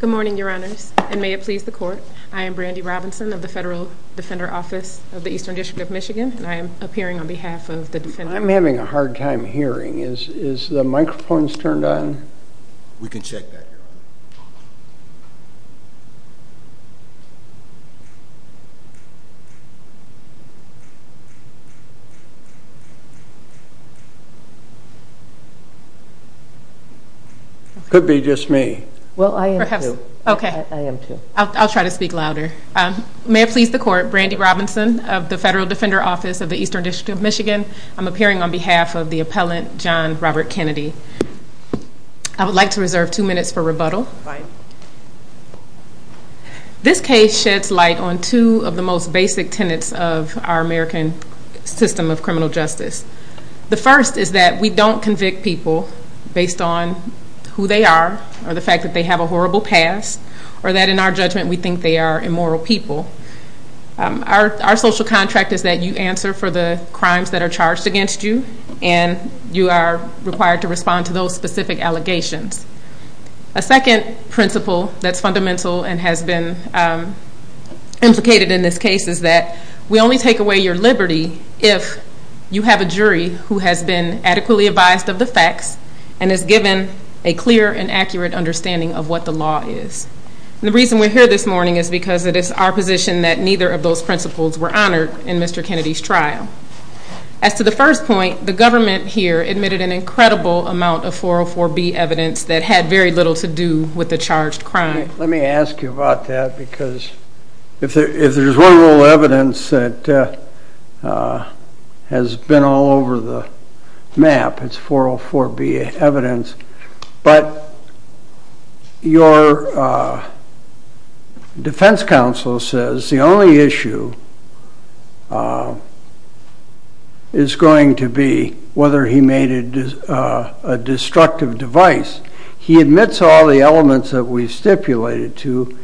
Good morning, your honors, and may it please the court, I am Brandi Robinson of the Federal Defender Office of the Eastern District of Michigan, and I am appearing on behalf of the defendant. I'm having a hard time hearing, is the microphones turned on? We can check that, your honor. Could be just me. Well, I am too. Okay. I am too. I'll try to speak louder. May it please the court, Brandi Robinson of the Federal Defender Office of the Eastern District of Michigan. I'm appearing on behalf of the appellant, John Robert Kennedy. I would like to reserve two minutes for rebuttal. This case sheds light on two of the most basic tenets of our American system of criminal justice. The first is that we don't convict people based on who they are, or the fact that they have a horrible past, or that in our judgment we think they are immoral people. Our social contract is that you answer for the crimes that are charged against you, and you are required to respond to those specific allegations. A second principle that's fundamental and has been implicated in this case is that we only take away your liberty if you have a jury who has been adequately advised of the facts and is given a clear and accurate understanding of what the law is. The reason we're here this morning is because it is our position that neither of those principles were honored in Mr. Kennedy's trial. As to the first point, the government here admitted an incredible amount of 404B evidence that had very little to do with the charged crime. Let me ask you about that, because if there's one little evidence that has been all over the map, it's 404B evidence, but your defense counsel says the only issue is going to be whether he made a destructive device. He admits all the elements that we stipulated to,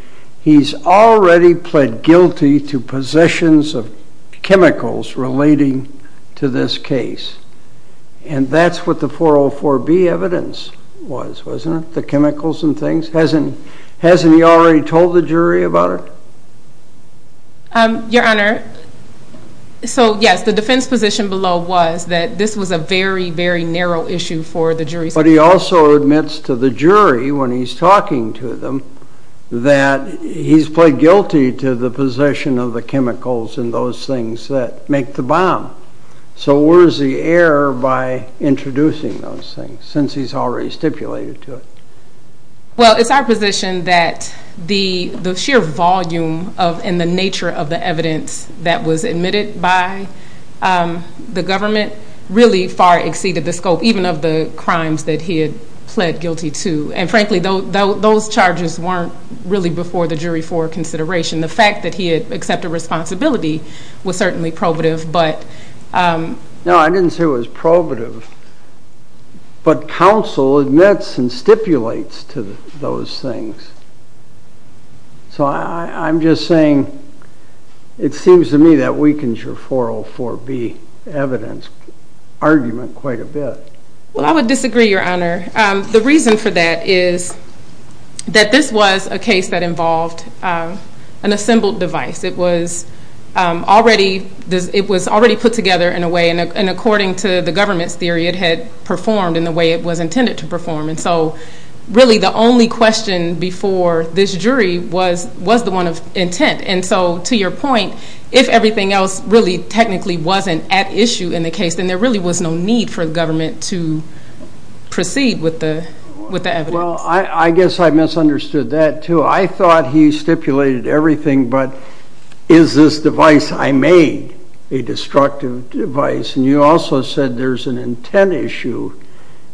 he's already pled guilty to possessions of chemicals relating to this case. And that's what the 404B evidence was, wasn't it? The chemicals and things? Hasn't he already told the jury about it? Your Honor, so yes, the defense position below was that this was a very, very narrow issue for the jury. But he also admits to the jury when he's talking to them that he's pled guilty to the possession of the chemicals and those things that make the bomb. So where's the error by introducing those things, since he's already stipulated to it? Well, it's our position that the sheer volume and the nature of the evidence that was admitted by the government really far exceeded the scope, even of the crimes that he had pled guilty to. And frankly, those charges weren't really before the jury for consideration. The fact that he had accepted responsibility was certainly probative, but... No, I didn't say it was probative. But counsel admits and stipulates to those things. So I'm just saying it seems to me that weakens your 404B evidence argument quite a bit. Well, I would disagree, Your Honor. The reason for that is that this was a case that involved an assembled device. It was already put together in a way, and according to the government's theory, it had performed in the way it was intended to perform. And so really the only question before this jury was the one of intent. And so to your point, if everything else really technically wasn't at issue in the case, then there really was no need for the government to proceed with the evidence. Well, I guess I misunderstood that, too. I thought he stipulated everything but, is this device I made a destructive device? And you also said there's an intent issue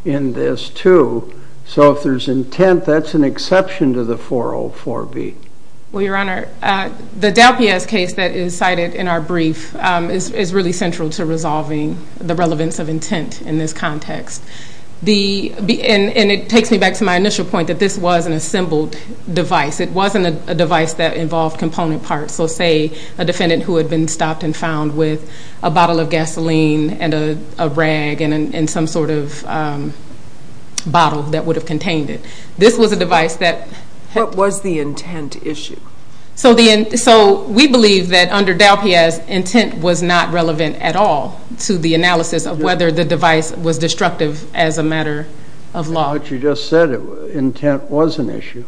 in this, too. So if there's intent, that's an exception to the 404B. Well, Your Honor, the DelPiaz case that is cited in our brief is really central to resolving the relevance of intent in this context. And it takes me back to my initial point that this was an assembled device. It wasn't a device that involved component parts. So say a defendant who had been stopped and found with a bottle of gasoline and a rag and some sort of bottle that would have contained it. This was a device that... What was the intent issue? So we believe that under DelPiaz, intent was not relevant at all to the analysis of whether the device was destructive as a matter of law. But you just said intent was an issue.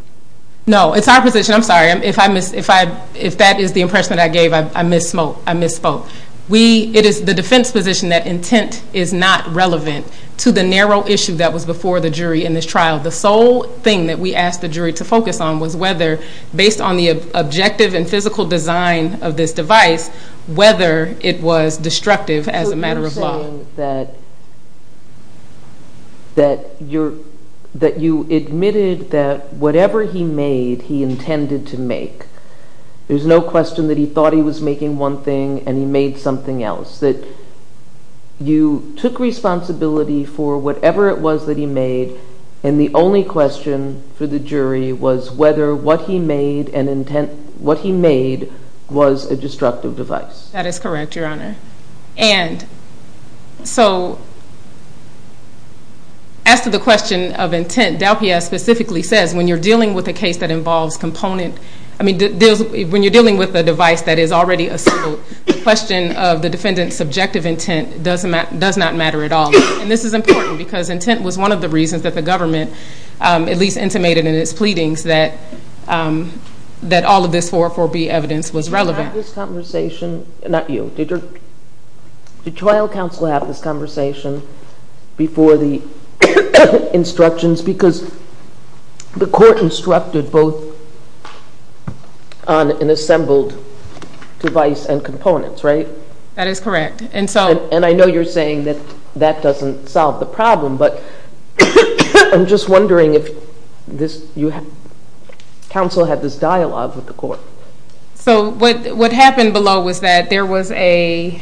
No, it's our position. I'm sorry. If that is the impression that I gave, I misspoke. It is the defense position that intent is not relevant to the narrow issue that was before the jury in this trial. The sole thing that we asked the jury to focus on was whether, based on the objective and physical design of this device, whether it was destructive as a matter of law. So you're saying that you admitted that whatever he made, he intended to make. There's no question that he thought he was making one thing and he made something else. That you took responsibility for whatever it was that he made and the only question for the jury was whether what he made was a destructive device. That is correct, Your Honor. And so as to the question of intent, DelPiaz specifically says when you're dealing with a case that involves component... When you're dealing with a device that is already a civil, the question of the defendant's subjective intent does not matter at all. And this is important because intent was one of the reasons that the government, at least intimated in its pleadings, that all of this 404B evidence was relevant. Did you have this conversation, not you, did your trial counsel have this conversation before the instructions? Because the court instructed both on an assembled device and components, right? That is correct. And I know you're saying that that doesn't solve the problem, but I'm just wondering if counsel had this dialogue with the court. So what happened below was that there was a...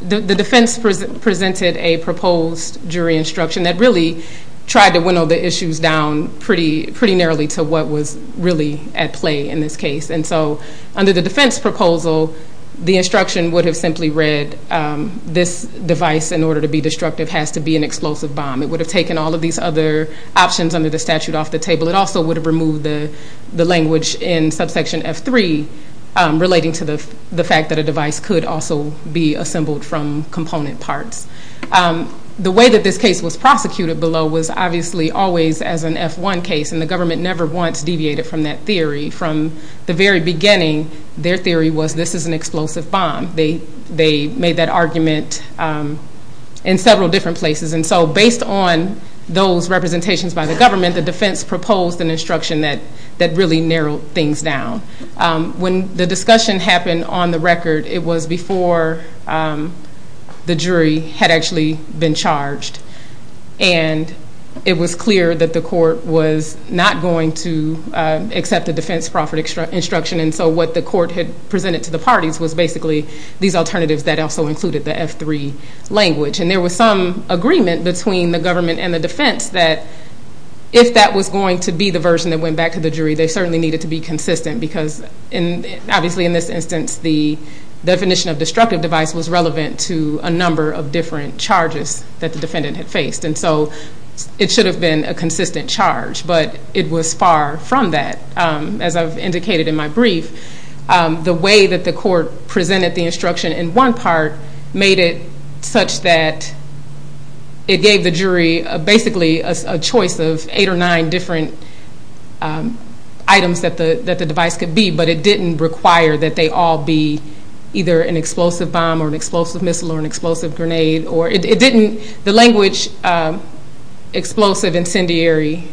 The defense presented a proposed jury instruction that really tried to winnow the issues down pretty narrowly to what was really at play in this case. And so under the defense proposal, the instruction would have simply read, this device in order to be destructive has to be an explosive bomb. It would have taken all of these other options under the statute off the table. It also would have removed the language in subsection F3 relating to the fact that a device could also be assembled from component parts. The way that this case was prosecuted below was obviously always as an F1 case, and the government never once deviated from that theory. From the very beginning, their theory was this is an explosive bomb. They made that argument in several different places. And so based on those representations by the government, the defense proposed an instruction that really narrowed things down. When the discussion happened on the record, it was before the jury had actually been charged. And it was clear that the court was not going to accept the defense proffered instruction. And so what the court had presented to the parties was basically these alternatives that also included the F3 language. And there was some agreement between the government and the defense that if that was going to be the version that went back to the jury, they certainly needed to be consistent. Because obviously in this instance, the definition of destructive device was relevant to a number of different charges that the defendant had faced. And so it should have been a consistent charge, but it was far from that. As I've indicated in my brief, the way that the court presented the instruction in one part made it such that it gave the jury basically a choice of eight or nine different items that the device could be, but it didn't require that they all be either an explosive bomb or an explosive missile or an explosive grenade. The language, explosive, incendiary,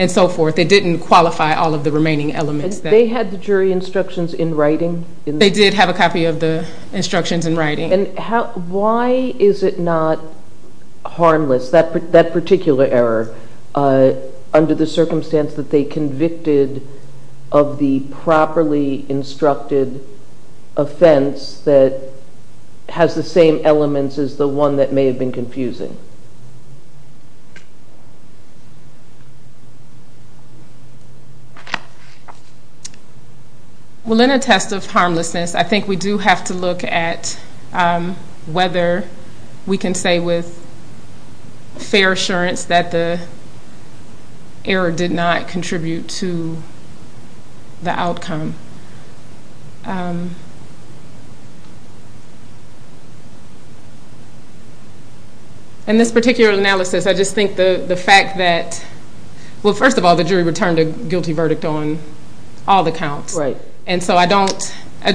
and so forth, it didn't qualify all of the remaining elements. And they had the jury instructions in writing? They did have a copy of the instructions in writing. And why is it not harmless, that particular error, under the circumstance that they convicted of the properly instructed offense that has the same elements as the one that may have been confusing? Well, in a test of harmlessness, I think we do have to look at whether we can say with fair assurance that the error did not contribute to the outcome. In this particular analysis, I just think the fact that, well, first of all, the jury returned a guilty verdict on all the counts. And so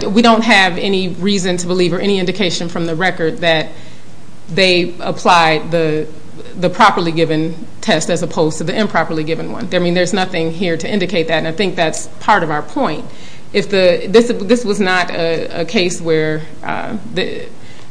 we don't have any reason to believe or any indication from the record that they applied the properly given test as opposed to the improperly given one. There's nothing here to indicate that, and I think that's part of our point. This was not a case where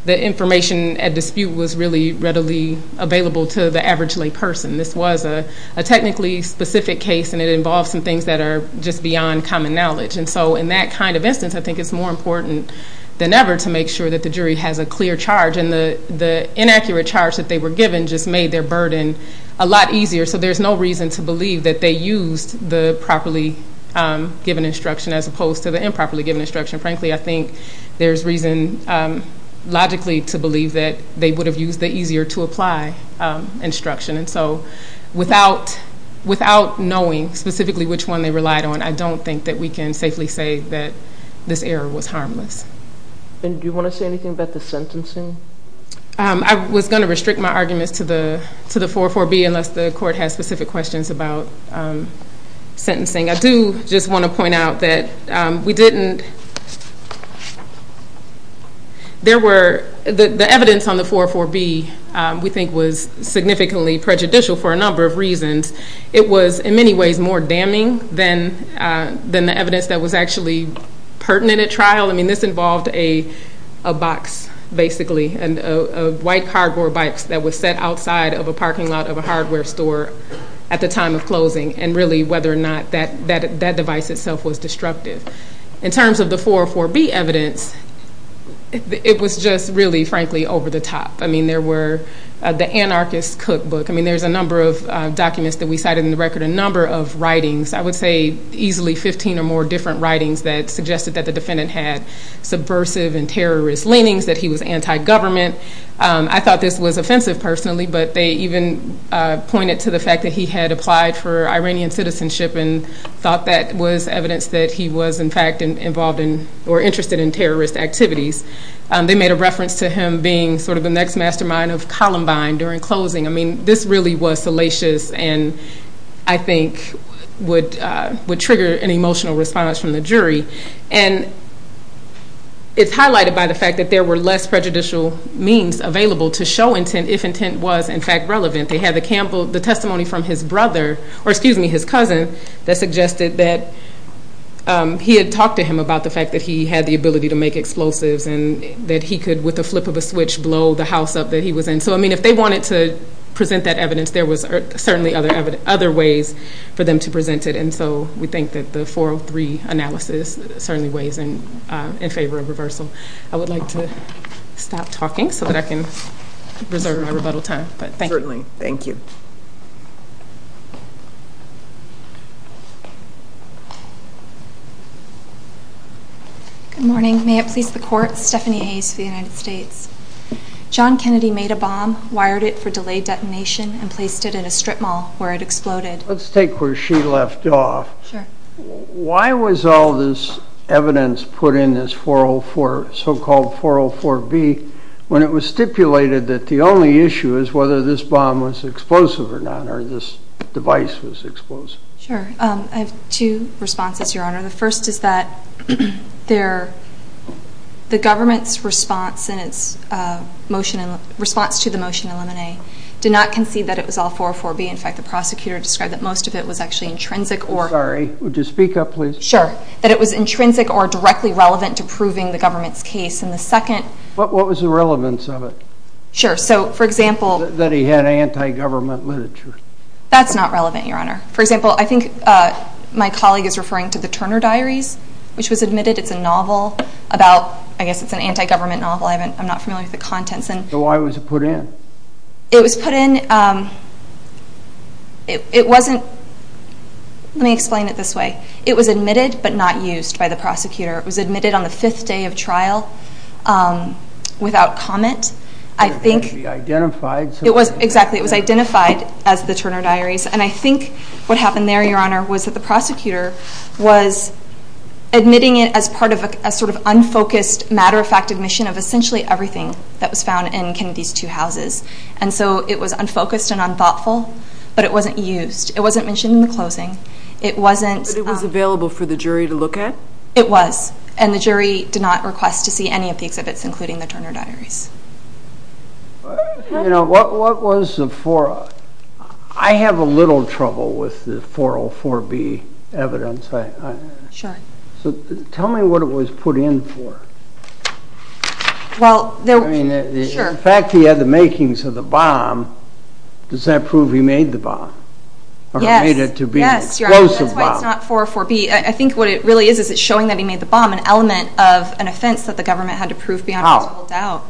the information at dispute was really readily available to the average lay person. This was a technically specific case, and it involved some things that are just beyond common knowledge. And so in that kind of instance, I think it's more important than ever to make sure that the jury has a clear charge, and the inaccurate charge that they were given just made their burden a lot easier. So there's no reason to believe that they used the properly given instruction as opposed to the improperly given instruction. Frankly, I think there's reason logically to believe that they would have used the easier to apply instruction. And so without knowing specifically which one they relied on, I don't think that we can safely say that this error was harmless. And do you want to say anything about the sentencing? I was going to restrict my arguments to the 404B unless the court has specific questions about sentencing. I do just want to point out that we didn't – there were – the evidence on the 404B we think was significantly prejudicial for a number of reasons. It was in many ways more damning than the evidence that was actually pertinent at trial. I mean, this involved a box, basically, of white cardboard bikes that was set outside of a parking lot of a hardware store at the time of closing, and really whether or not that device itself was destructive. In terms of the 404B evidence, it was just really, frankly, over the top. I mean, there were – the anarchist cookbook – I mean, there's a number of documents that we cited in the record, a number of writings, I would say easily 15 or more different writings that suggested that the defendant had subversive and terrorist leanings, that he was anti-government. I thought this was offensive personally, but they even pointed to the fact that he had applied for Iranian citizenship and thought that was evidence that he was, in fact, involved in or interested in terrorist activities. They made a reference to him being sort of the next mastermind of Columbine during closing. I mean, this really was salacious and I think would trigger an emotional response from the jury. And it's highlighted by the fact that there were less prejudicial means available to show intent if intent was, in fact, relevant. They had the testimony from his cousin that suggested that he had talked to him about the fact that he had the ability to make explosives and that he could, with the flip of a switch, blow the house up that he was in. So, I mean, if they wanted to present that evidence, there was certainly other ways for them to present it. And so, we think that the 403 analysis certainly weighs in favor of reversal. I would like to stop talking so that I can reserve my rebuttal time, but thank you. Certainly. Thank you. Good morning. May it please the court, Stephanie Hayes for the United States. John Kennedy made a bomb, wired it for delayed detonation, and placed it in a strip mall where it exploded. Let's take where she left off. Why was all this evidence put in this so-called 404B when it was stipulated that the only issue is whether this bomb was explosive or not, or this device was explosive? I have two responses, Your Honor. The first is that the government's response to the motion in Limine did not concede that it was all 404B. In fact, the prosecutor described that most of it was actually intrinsic or- I'm sorry. Would you speak up, please? Sure. That it was intrinsic or directly relevant to proving the government's case. And the second- What was the relevance of it? Sure. So, for example- That he had anti-government literature. That's not relevant, Your Honor. For example, I think my colleague is referring to the Turner Diaries, which was admitted it's a novel about- I guess it's an anti-government novel. I'm not familiar with the contents. So, why was it put in? It was put in- It wasn't- Let me explain it this way. It was admitted, but not used by the prosecutor. It was admitted on the fifth day of trial without comment. I think- It wasn't actually identified. It was- Exactly. It was identified as the Turner Diaries. And I think what happened there, Your Honor, was that the prosecutor was admitting it as part of a sort of unfocused, matter-of-fact admission of essentially everything that was And so, it was unfocused and unthoughtful, but it wasn't used. It wasn't mentioned in the closing. It wasn't- But it was available for the jury to look at? It was. And the jury did not request to see any of the exhibits, including the Turner Diaries. You know, what was the- I have a little trouble with the 404B evidence. Sure. So, tell me what it was put in for. Well- I mean- Sure. But the fact that he had the makings of the bomb, does that prove he made the bomb? Yes. Or made it to be an explosive bomb? Yes, Your Honor. That's why it's not 404B. I think what it really is, is it's showing that he made the bomb, an element of an offense that the government had to prove beyond all doubt.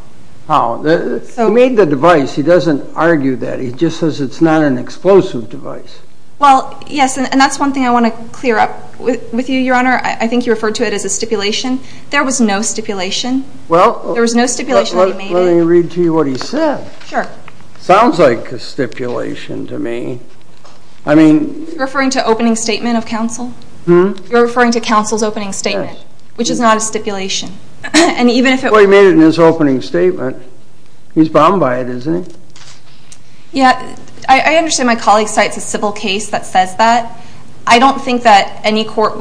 How? How? So- He made the device. He doesn't argue that. He just says it's not an explosive device. Well, yes. And that's one thing I want to clear up with you, Your Honor. I think you referred to it as a stipulation. There was no stipulation. Well- There was no stipulation that he made it. Well, let me read to you what he said. Sure. Sounds like a stipulation to me. I mean- You're referring to opening statement of counsel? Hmm? You're referring to counsel's opening statement, which is not a stipulation. And even if it was- Well, he made it in his opening statement. He's bound by it, isn't he? Yeah. I understand my colleague cites a civil case that says that. I don't think that any court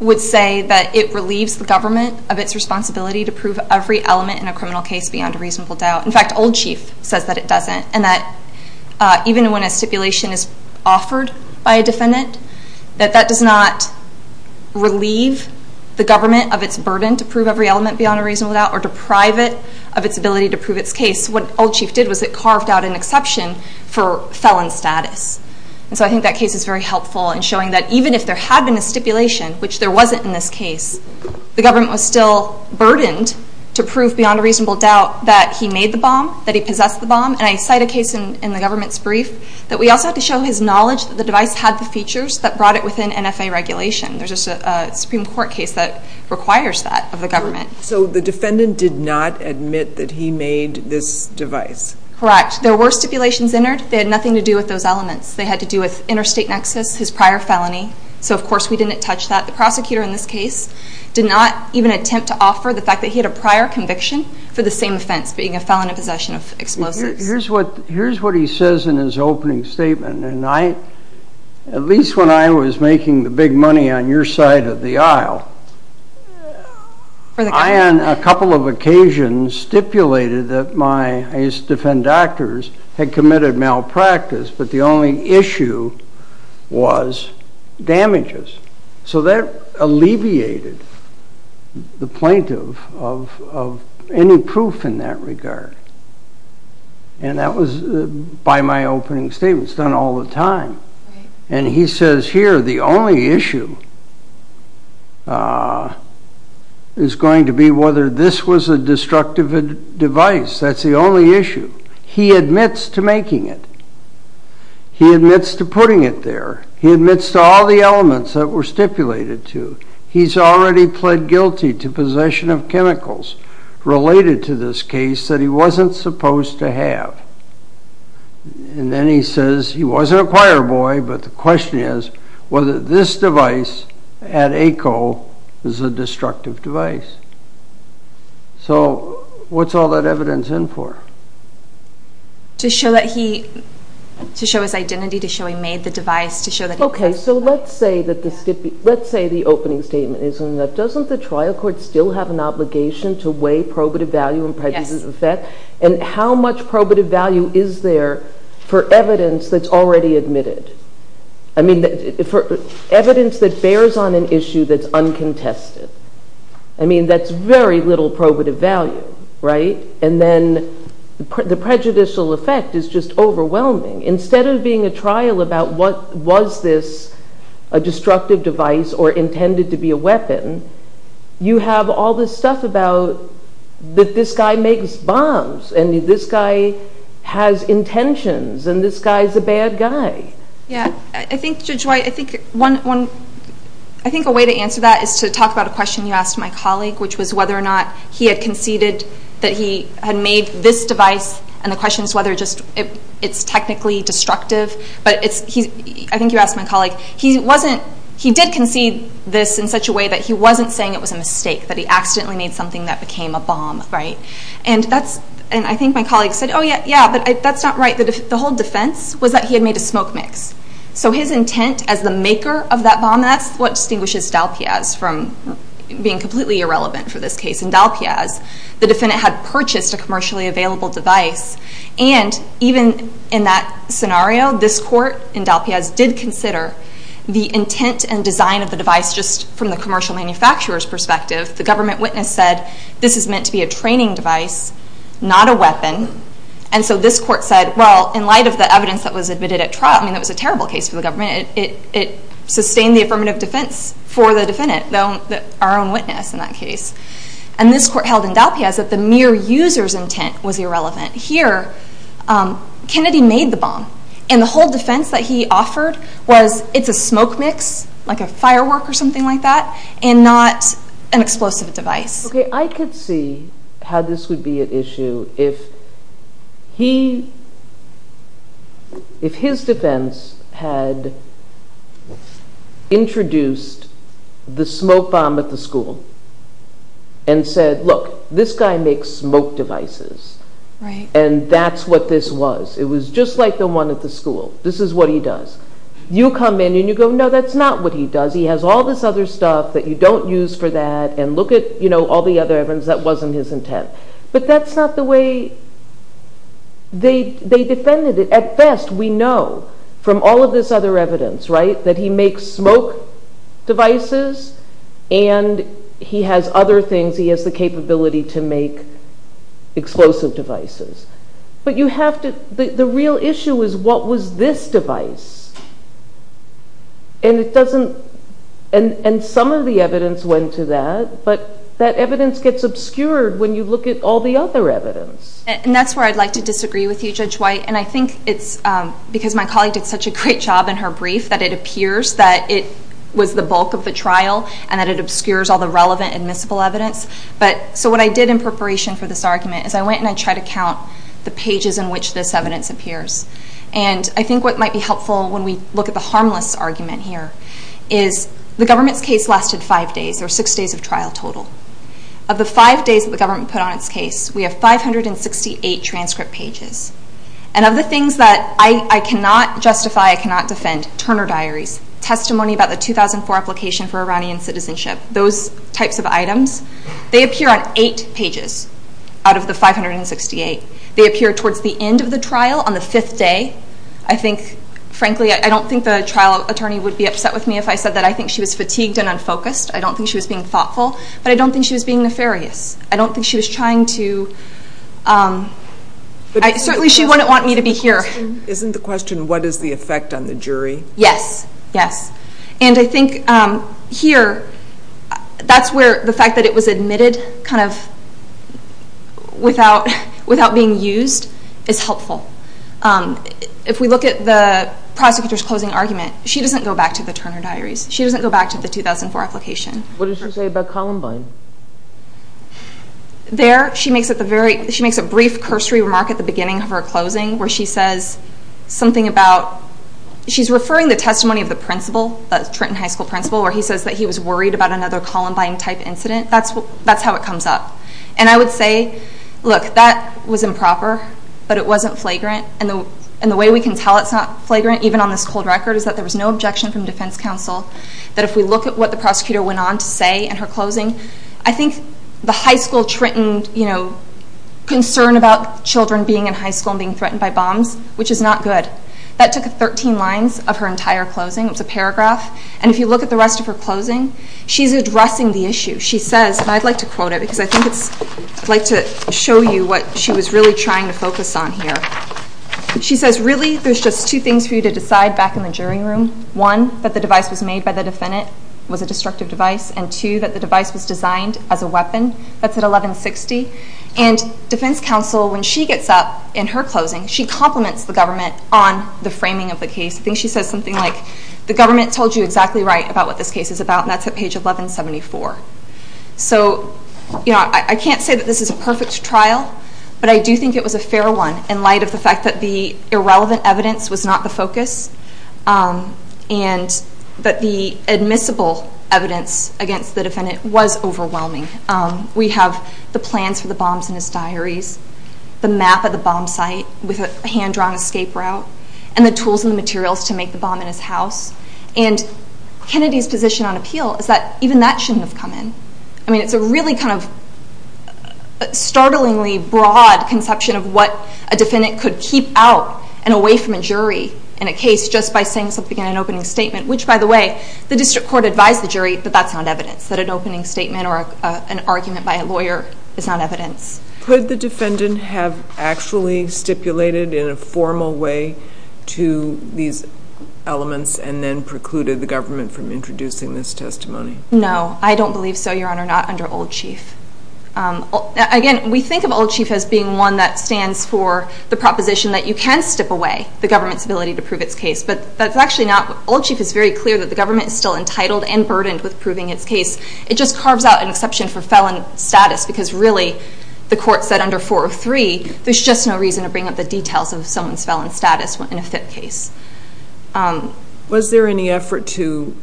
would say that it relieves the government of its responsibility to prove every element in a criminal case beyond a reasonable doubt. In fact, Old Chief says that it doesn't. And that even when a stipulation is offered by a defendant, that that does not relieve the government of its burden to prove every element beyond a reasonable doubt or deprive it of its ability to prove its case. What Old Chief did was it carved out an exception for felon status. And so I think that case is very helpful in showing that even if there had been a stipulation, which there wasn't in this case, the government was still burdened to prove beyond a reasonable doubt that he made the bomb, that he possessed the bomb. And I cite a case in the government's brief that we also had to show his knowledge that the device had the features that brought it within NFA regulation. There's just a Supreme Court case that requires that of the government. So the defendant did not admit that he made this device? Correct. There were stipulations entered. They had nothing to do with those elements. They had to do with interstate nexus, his prior felony. So of course, we didn't touch that. The prosecutor in this case did not even attempt to offer the fact that he had a prior conviction for the same offense, being a felon in possession of explosives. Here's what he says in his opening statement, and I, at least when I was making the big money on your side of the aisle, I on a couple of occasions stipulated that my, I used to damages. So that alleviated the plaintiff of any proof in that regard. And that was by my opening statement, it's done all the time. And he says here, the only issue is going to be whether this was a destructive device. That's the only issue. He admits to making it. He admits to putting it there. He admits to all the elements that were stipulated to. He's already pled guilty to possession of chemicals related to this case that he wasn't supposed to have. And then he says he wasn't a choir boy, but the question is whether this device at ACO is a destructive device. So what's all that evidence in for? To show that he, to show his identity, to show he made the device, to show that he. Okay. So let's say that the, let's say the opening statement isn't enough. Doesn't the trial court still have an obligation to weigh probative value and prejudice effect? Yes. And how much probative value is there for evidence that's already admitted? I mean, for evidence that bears on an issue that's uncontested. I mean, that's very little probative value, right? And then the prejudicial effect is just overwhelming. Instead of being a trial about what was this, a destructive device or intended to be a weapon, you have all this stuff about that this guy makes bombs and this guy has intentions and this guy's a bad guy. Yeah. I think, Judge White, I think one, I think a way to answer that is to talk about a question you asked my colleague, which was whether or not he had conceded that he had made this device and the question is whether just it's technically destructive, but it's, he, I think you asked my colleague, he wasn't, he did concede this in such a way that he wasn't saying it was a mistake, that he accidentally made something that became a bomb, right? And that's, and I think my colleague said, oh yeah, yeah, but that's not right. The whole defense was that he had made a smoke mix. So his intent as the maker of that bomb, that's what distinguishes Dalpiaz from being completely irrelevant for this case. In Dalpiaz, the defendant had purchased a commercially available device and even in that scenario, this court in Dalpiaz did consider the intent and design of the device just from the commercial manufacturer's perspective. The government witness said, this is meant to be a training device, not a weapon. And so this court said, well, in light of the evidence that was admitted at trial, I think it's a terrible case for the government. It sustained the affirmative defense for the defendant, though, our own witness in that case. And this court held in Dalpiaz that the mere user's intent was irrelevant. Here, Kennedy made the bomb and the whole defense that he offered was, it's a smoke mix, like a firework or something like that, and not an explosive device. I could see how this would be an issue if his defense had introduced the smoke bomb at the school and said, look, this guy makes smoke devices and that's what this was. It was just like the one at the school. This is what he does. You come in and you go, no, that's not what he does. He has all this other stuff that you don't use for that, and look at all the other evidence that wasn't his intent. But that's not the way they defended it. At best, we know from all of this other evidence that he makes smoke devices and he has other things. He has the capability to make explosive devices. But the real issue is, what was this device? And it doesn't, and some of the evidence went to that, but that evidence gets obscured when you look at all the other evidence. And that's where I'd like to disagree with you, Judge White. And I think it's because my colleague did such a great job in her brief that it appears that it was the bulk of the trial and that it obscures all the relevant admissible evidence. So what I did in preparation for this argument is I went and I tried to count the pages in which this evidence appears. And I think what might be helpful when we look at the harmless argument here is the government's case lasted five days, or six days of trial total. Of the five days that the government put on its case, we have 568 transcript pages. And of the things that I cannot justify, I cannot defend, Turner Diaries, testimony about the 2004 application for Iranian citizenship, those types of items, they appear on eight pages out of the 568. They appear towards the end of the trial on the fifth day. I think, frankly, I don't think the trial attorney would be upset with me if I said that I think she was fatigued and unfocused. I don't think she was being thoughtful, but I don't think she was being nefarious. I don't think she was trying to, certainly she wouldn't want me to be here. Isn't the question what is the effect on the jury? Yes. Yes. Yes. And I think here, that's where the fact that it was admitted kind of without being used is helpful. If we look at the prosecutor's closing argument, she doesn't go back to the Turner Diaries. She doesn't go back to the 2004 application. What did she say about Columbine? There she makes a brief cursory remark at the beginning of her closing where she says something about, she's referring the testimony of the principal, the Trenton High School principal, where he says that he was worried about another Columbine type incident. That's how it comes up. And I would say, look, that was improper, but it wasn't flagrant, and the way we can tell it's not flagrant, even on this cold record, is that there was no objection from defense counsel, that if we look at what the prosecutor went on to say in her closing, I think the high school Trenton concern about children being in high school and being threatened by bombs, which is not good. That took 13 lines of her entire closing. It was a paragraph. And if you look at the rest of her closing, she's addressing the issue. She says, and I'd like to quote it because I'd like to show you what she was really trying to focus on here. She says, really, there's just two things for you to decide back in the jury room. One, that the device was made by the defendant, was a destructive device, and two, that the device was designed as a weapon. That's at 1160. And defense counsel, when she gets up in her closing, she compliments the government on the framing of the case. I think she says something like, the government told you exactly right about what this case is about, and that's at page 1174. So I can't say that this is a perfect trial, but I do think it was a fair one, in light of the fact that the irrelevant evidence was not the focus, and that the admissible evidence against the defendant was overwhelming. We have the plans for the bombs in his diaries, the map of the bomb site with a hand-drawn escape route, and the tools and the materials to make the bomb in his house, and Kennedy's position on appeal is that even that shouldn't have come in. I mean, it's a really kind of startlingly broad conception of what a defendant could keep out and away from a jury in a case just by saying something in an opening statement, which by the way, the district court advised the jury that that's not evidence, that an argument by a lawyer is not evidence. Could the defendant have actually stipulated in a formal way to these elements and then precluded the government from introducing this testimony? No, I don't believe so, Your Honor, not under Old Chief. Again, we think of Old Chief as being one that stands for the proposition that you can stip away the government's ability to prove its case, but that's actually not, Old Chief is very clear that the government is still entitled and burdened with proving its case. It just carves out an exception for felon status, because really, the court said under 403, there's just no reason to bring up the details of someone's felon status in a FIP case. Was there any effort to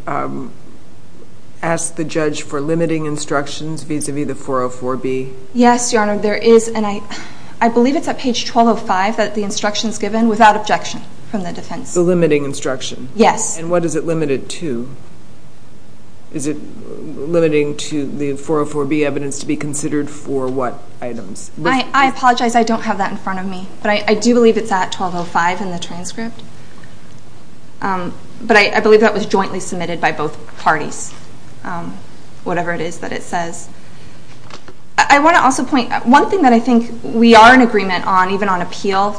ask the judge for limiting instructions vis-a-vis the 404b? Yes, Your Honor, there is, and I believe it's at page 1205 that the instruction's given without objection from the defense. The limiting instruction? Yes. And what does it limit it to? Is it limiting to the 404b evidence to be considered for what items? I apologize, I don't have that in front of me, but I do believe it's at 1205 in the transcript, but I believe that was jointly submitted by both parties, whatever it is that it says. I want to also point, one thing that I think we are in agreement on, even on appeal,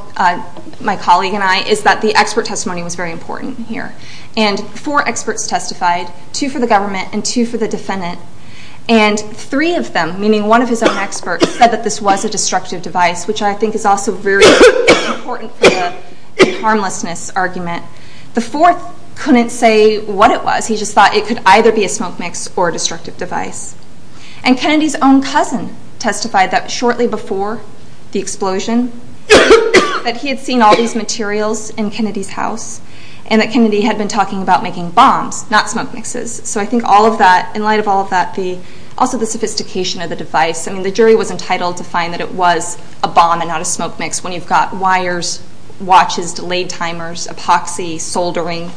my colleague and I, is that the expert testimony was very important here. Four experts testified, two for the government and two for the defendant, and three of them, meaning one of his own experts, said that this was a destructive device, which I think is also very important for the harmlessness argument. The fourth couldn't say what it was, he just thought it could either be a smoke mix or a destructive device. And Kennedy's own cousin testified that shortly before the explosion, that he had seen all have been talking about making bombs, not smoke mixes. So I think all of that, in light of all of that, also the sophistication of the device, I mean the jury was entitled to find that it was a bomb and not a smoke mix, when you've got wires, watches, delayed timers, epoxy, soldering,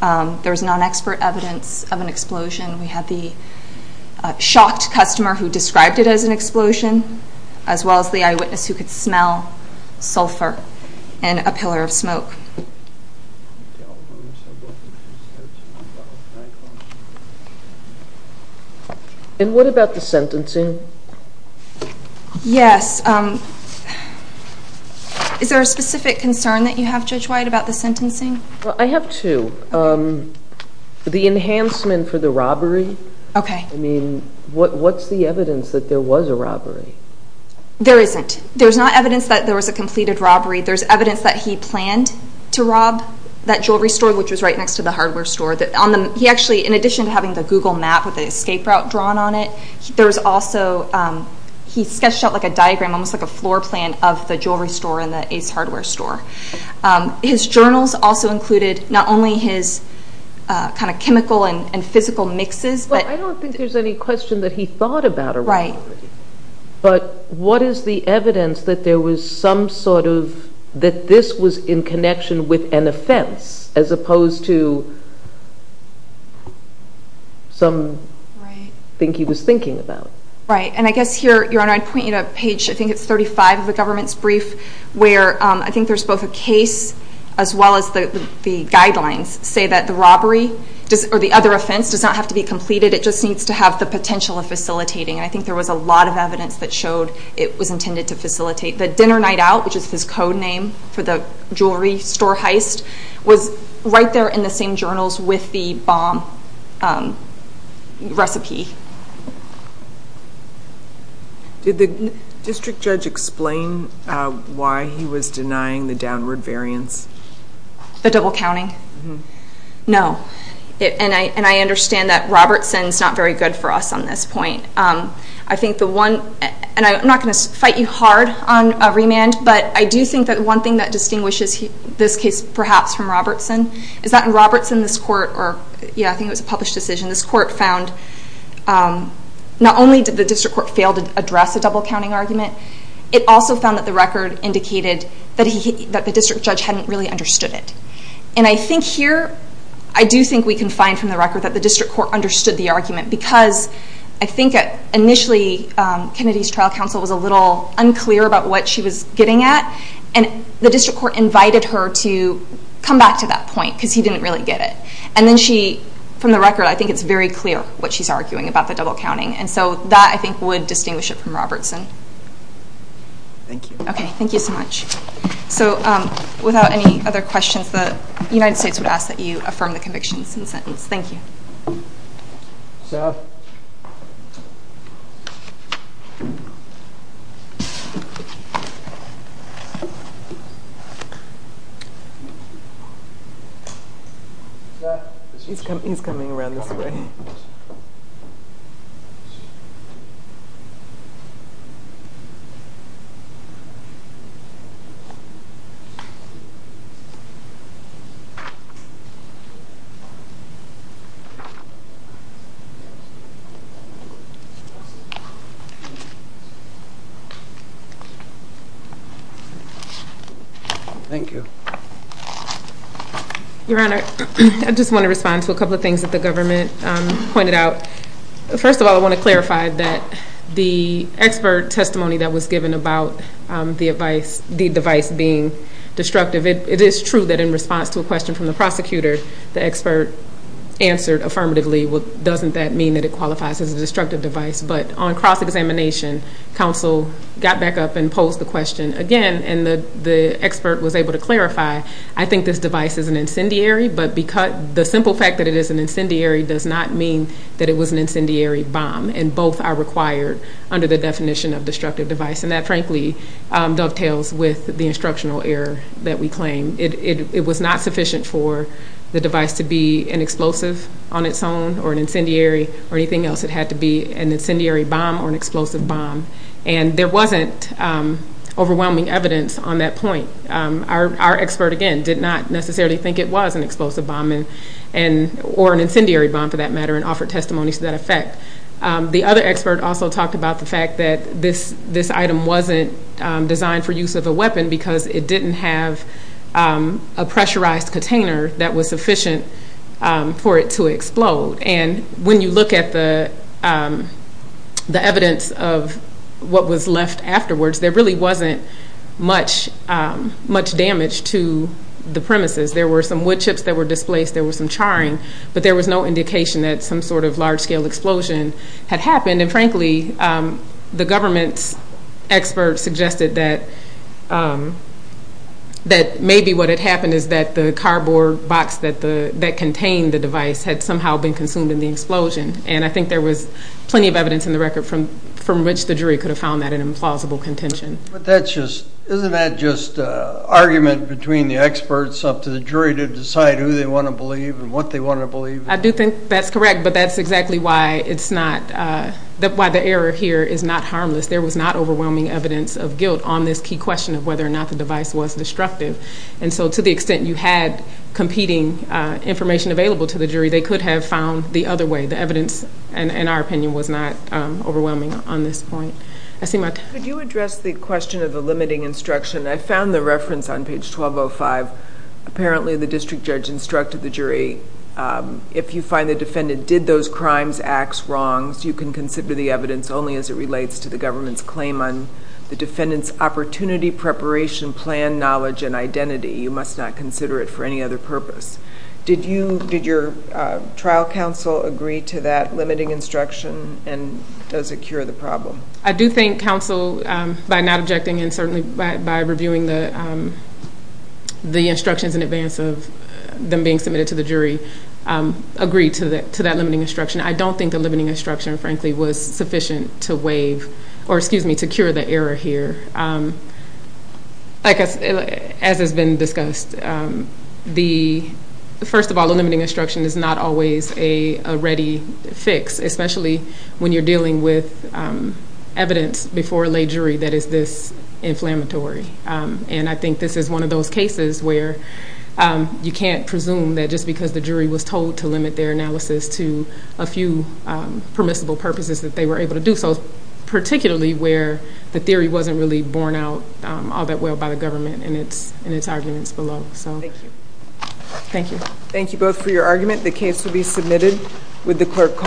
there was non-expert evidence of an explosion. We had the shocked customer who described it as an explosion, as well as the eyewitness who could smell sulfur in a pillar of smoke. And what about the sentencing? Yes, is there a specific concern that you have, Judge White, about the sentencing? I have two. The enhancement for the robbery, I mean, what's the evidence that there was a robbery? There isn't. There's not evidence that there was a completed robbery. There's evidence that he planned to rob that jewelry store, which was right next to the hardware store. He actually, in addition to having the Google map with the escape route drawn on it, there was also, he sketched out like a diagram, almost like a floor plan of the jewelry store and the Ace Hardware store. His journals also included not only his kind of chemical and physical mixes, but- I don't think there's any question that he thought about a robbery. Right. But what is the evidence that there was some sort of, that this was in connection with an offense, as opposed to some thing he was thinking about? And I guess here, Your Honor, I'd point you to page, I think it's 35 of the government's brief, where I think there's both a case as well as the guidelines say that the robbery or the other offense does not have to be completed. It just needs to have the potential of facilitating. And I think there was a lot of evidence that showed it was intended to facilitate the dinner night out, which is his code name for the jewelry store heist, was right there in the same journals with the bomb recipe. Did the district judge explain why he was denying the downward variance? The double counting? No. And I understand that Robertson's not very good for us on this point. I think the one, and I'm not going to fight you hard on remand, but I do think that one thing that distinguishes this case perhaps from Robertson, is that in Robertson, this court, or yeah, I think it was a published decision, this court found not only did the district court fail to address the double counting argument, it also found that the record indicated that the district judge hadn't really understood it. And I think here, I do think we can find from the record that the district court understood the argument because I think initially Kennedy's trial counsel was a little unclear about what she was getting at, and the district court invited her to come back to that point because he didn't really get it. And then she, from the record, I think it's very clear what she's arguing about the double counting. And so that I think would distinguish it from Robertson. Thank you. Okay. Thank you so much. So without any other questions, the United States would ask that you affirm the convictions in the sentence. Thank you. Sir. He's coming around this way. Thank you. Thank you. Your Honor, I just want to respond to a couple of things that the government pointed out. First of all, I want to clarify that the expert testimony that was given about the advice, the device being destructive, it is true that in response to a question from the prosecutor, the expert answered affirmatively, well, doesn't that mean that it qualifies as a destructive device? But on cross-examination, counsel got back up and posed the question again, and the expert was able to clarify, I think this device is an incendiary, but the simple fact that it is an incendiary does not mean that it was an incendiary bomb. And both are required under the definition of destructive device. And that frankly dovetails with the instructional error that we claim. It was not sufficient for the device to be an explosive on its own or an incendiary or anything else. It had to be an incendiary bomb or an explosive bomb. And there wasn't overwhelming evidence on that point. Our expert, again, did not necessarily think it was an explosive bomb or an incendiary bomb for that matter and offered testimony to that effect. The other expert also talked about the fact that this item wasn't designed for use of a weapon because it didn't have a pressurized container that was sufficient for it to explode. And when you look at the evidence of what was left afterwards, there really wasn't much damage to the premises. There were some wood chips that were displaced, there was some charring, but there was no large-scale explosion that happened. And frankly, the government's expert suggested that maybe what had happened is that the cardboard box that contained the device had somehow been consumed in the explosion. And I think there was plenty of evidence in the record from which the jury could have found that an implausible contention. But isn't that just an argument between the experts up to the jury to decide who they want to believe and what they want to believe? I do think that's correct, but that's exactly why the error here is not harmless. There was not overwhelming evidence of guilt on this key question of whether or not the device was destructive. And so to the extent you had competing information available to the jury, they could have found the other way. The evidence, in our opinion, was not overwhelming on this point. I see my time. Could you address the question of the limiting instruction? I found the reference on page 1205. Apparently, the district judge instructed the jury, if you find the defendant did those crimes, acts, wrongs, you can consider the evidence only as it relates to the government's claim on the defendant's opportunity, preparation, plan, knowledge, and identity. You must not consider it for any other purpose. Did your trial counsel agree to that limiting instruction, and does it cure the problem? I do think counsel, by not objecting, and certainly by reviewing the instructions in advance of them being submitted to the jury, agreed to that limiting instruction. I don't think the limiting instruction, frankly, was sufficient to wave, or excuse me, to cure the error here. As has been discussed, first of all, the limiting instruction is not always a ready fix, especially when you're dealing with evidence before a lay jury that is this inflammatory. I think this is one of those cases where you can't presume that just because the jury was told to limit their analysis to a few permissible purposes that they were able to do so, particularly where the theory wasn't really borne out all that well by the government in its arguments below. Thank you. Thank you. Thank you both for your argument. The case will be submitted. Would the clerk call the roll?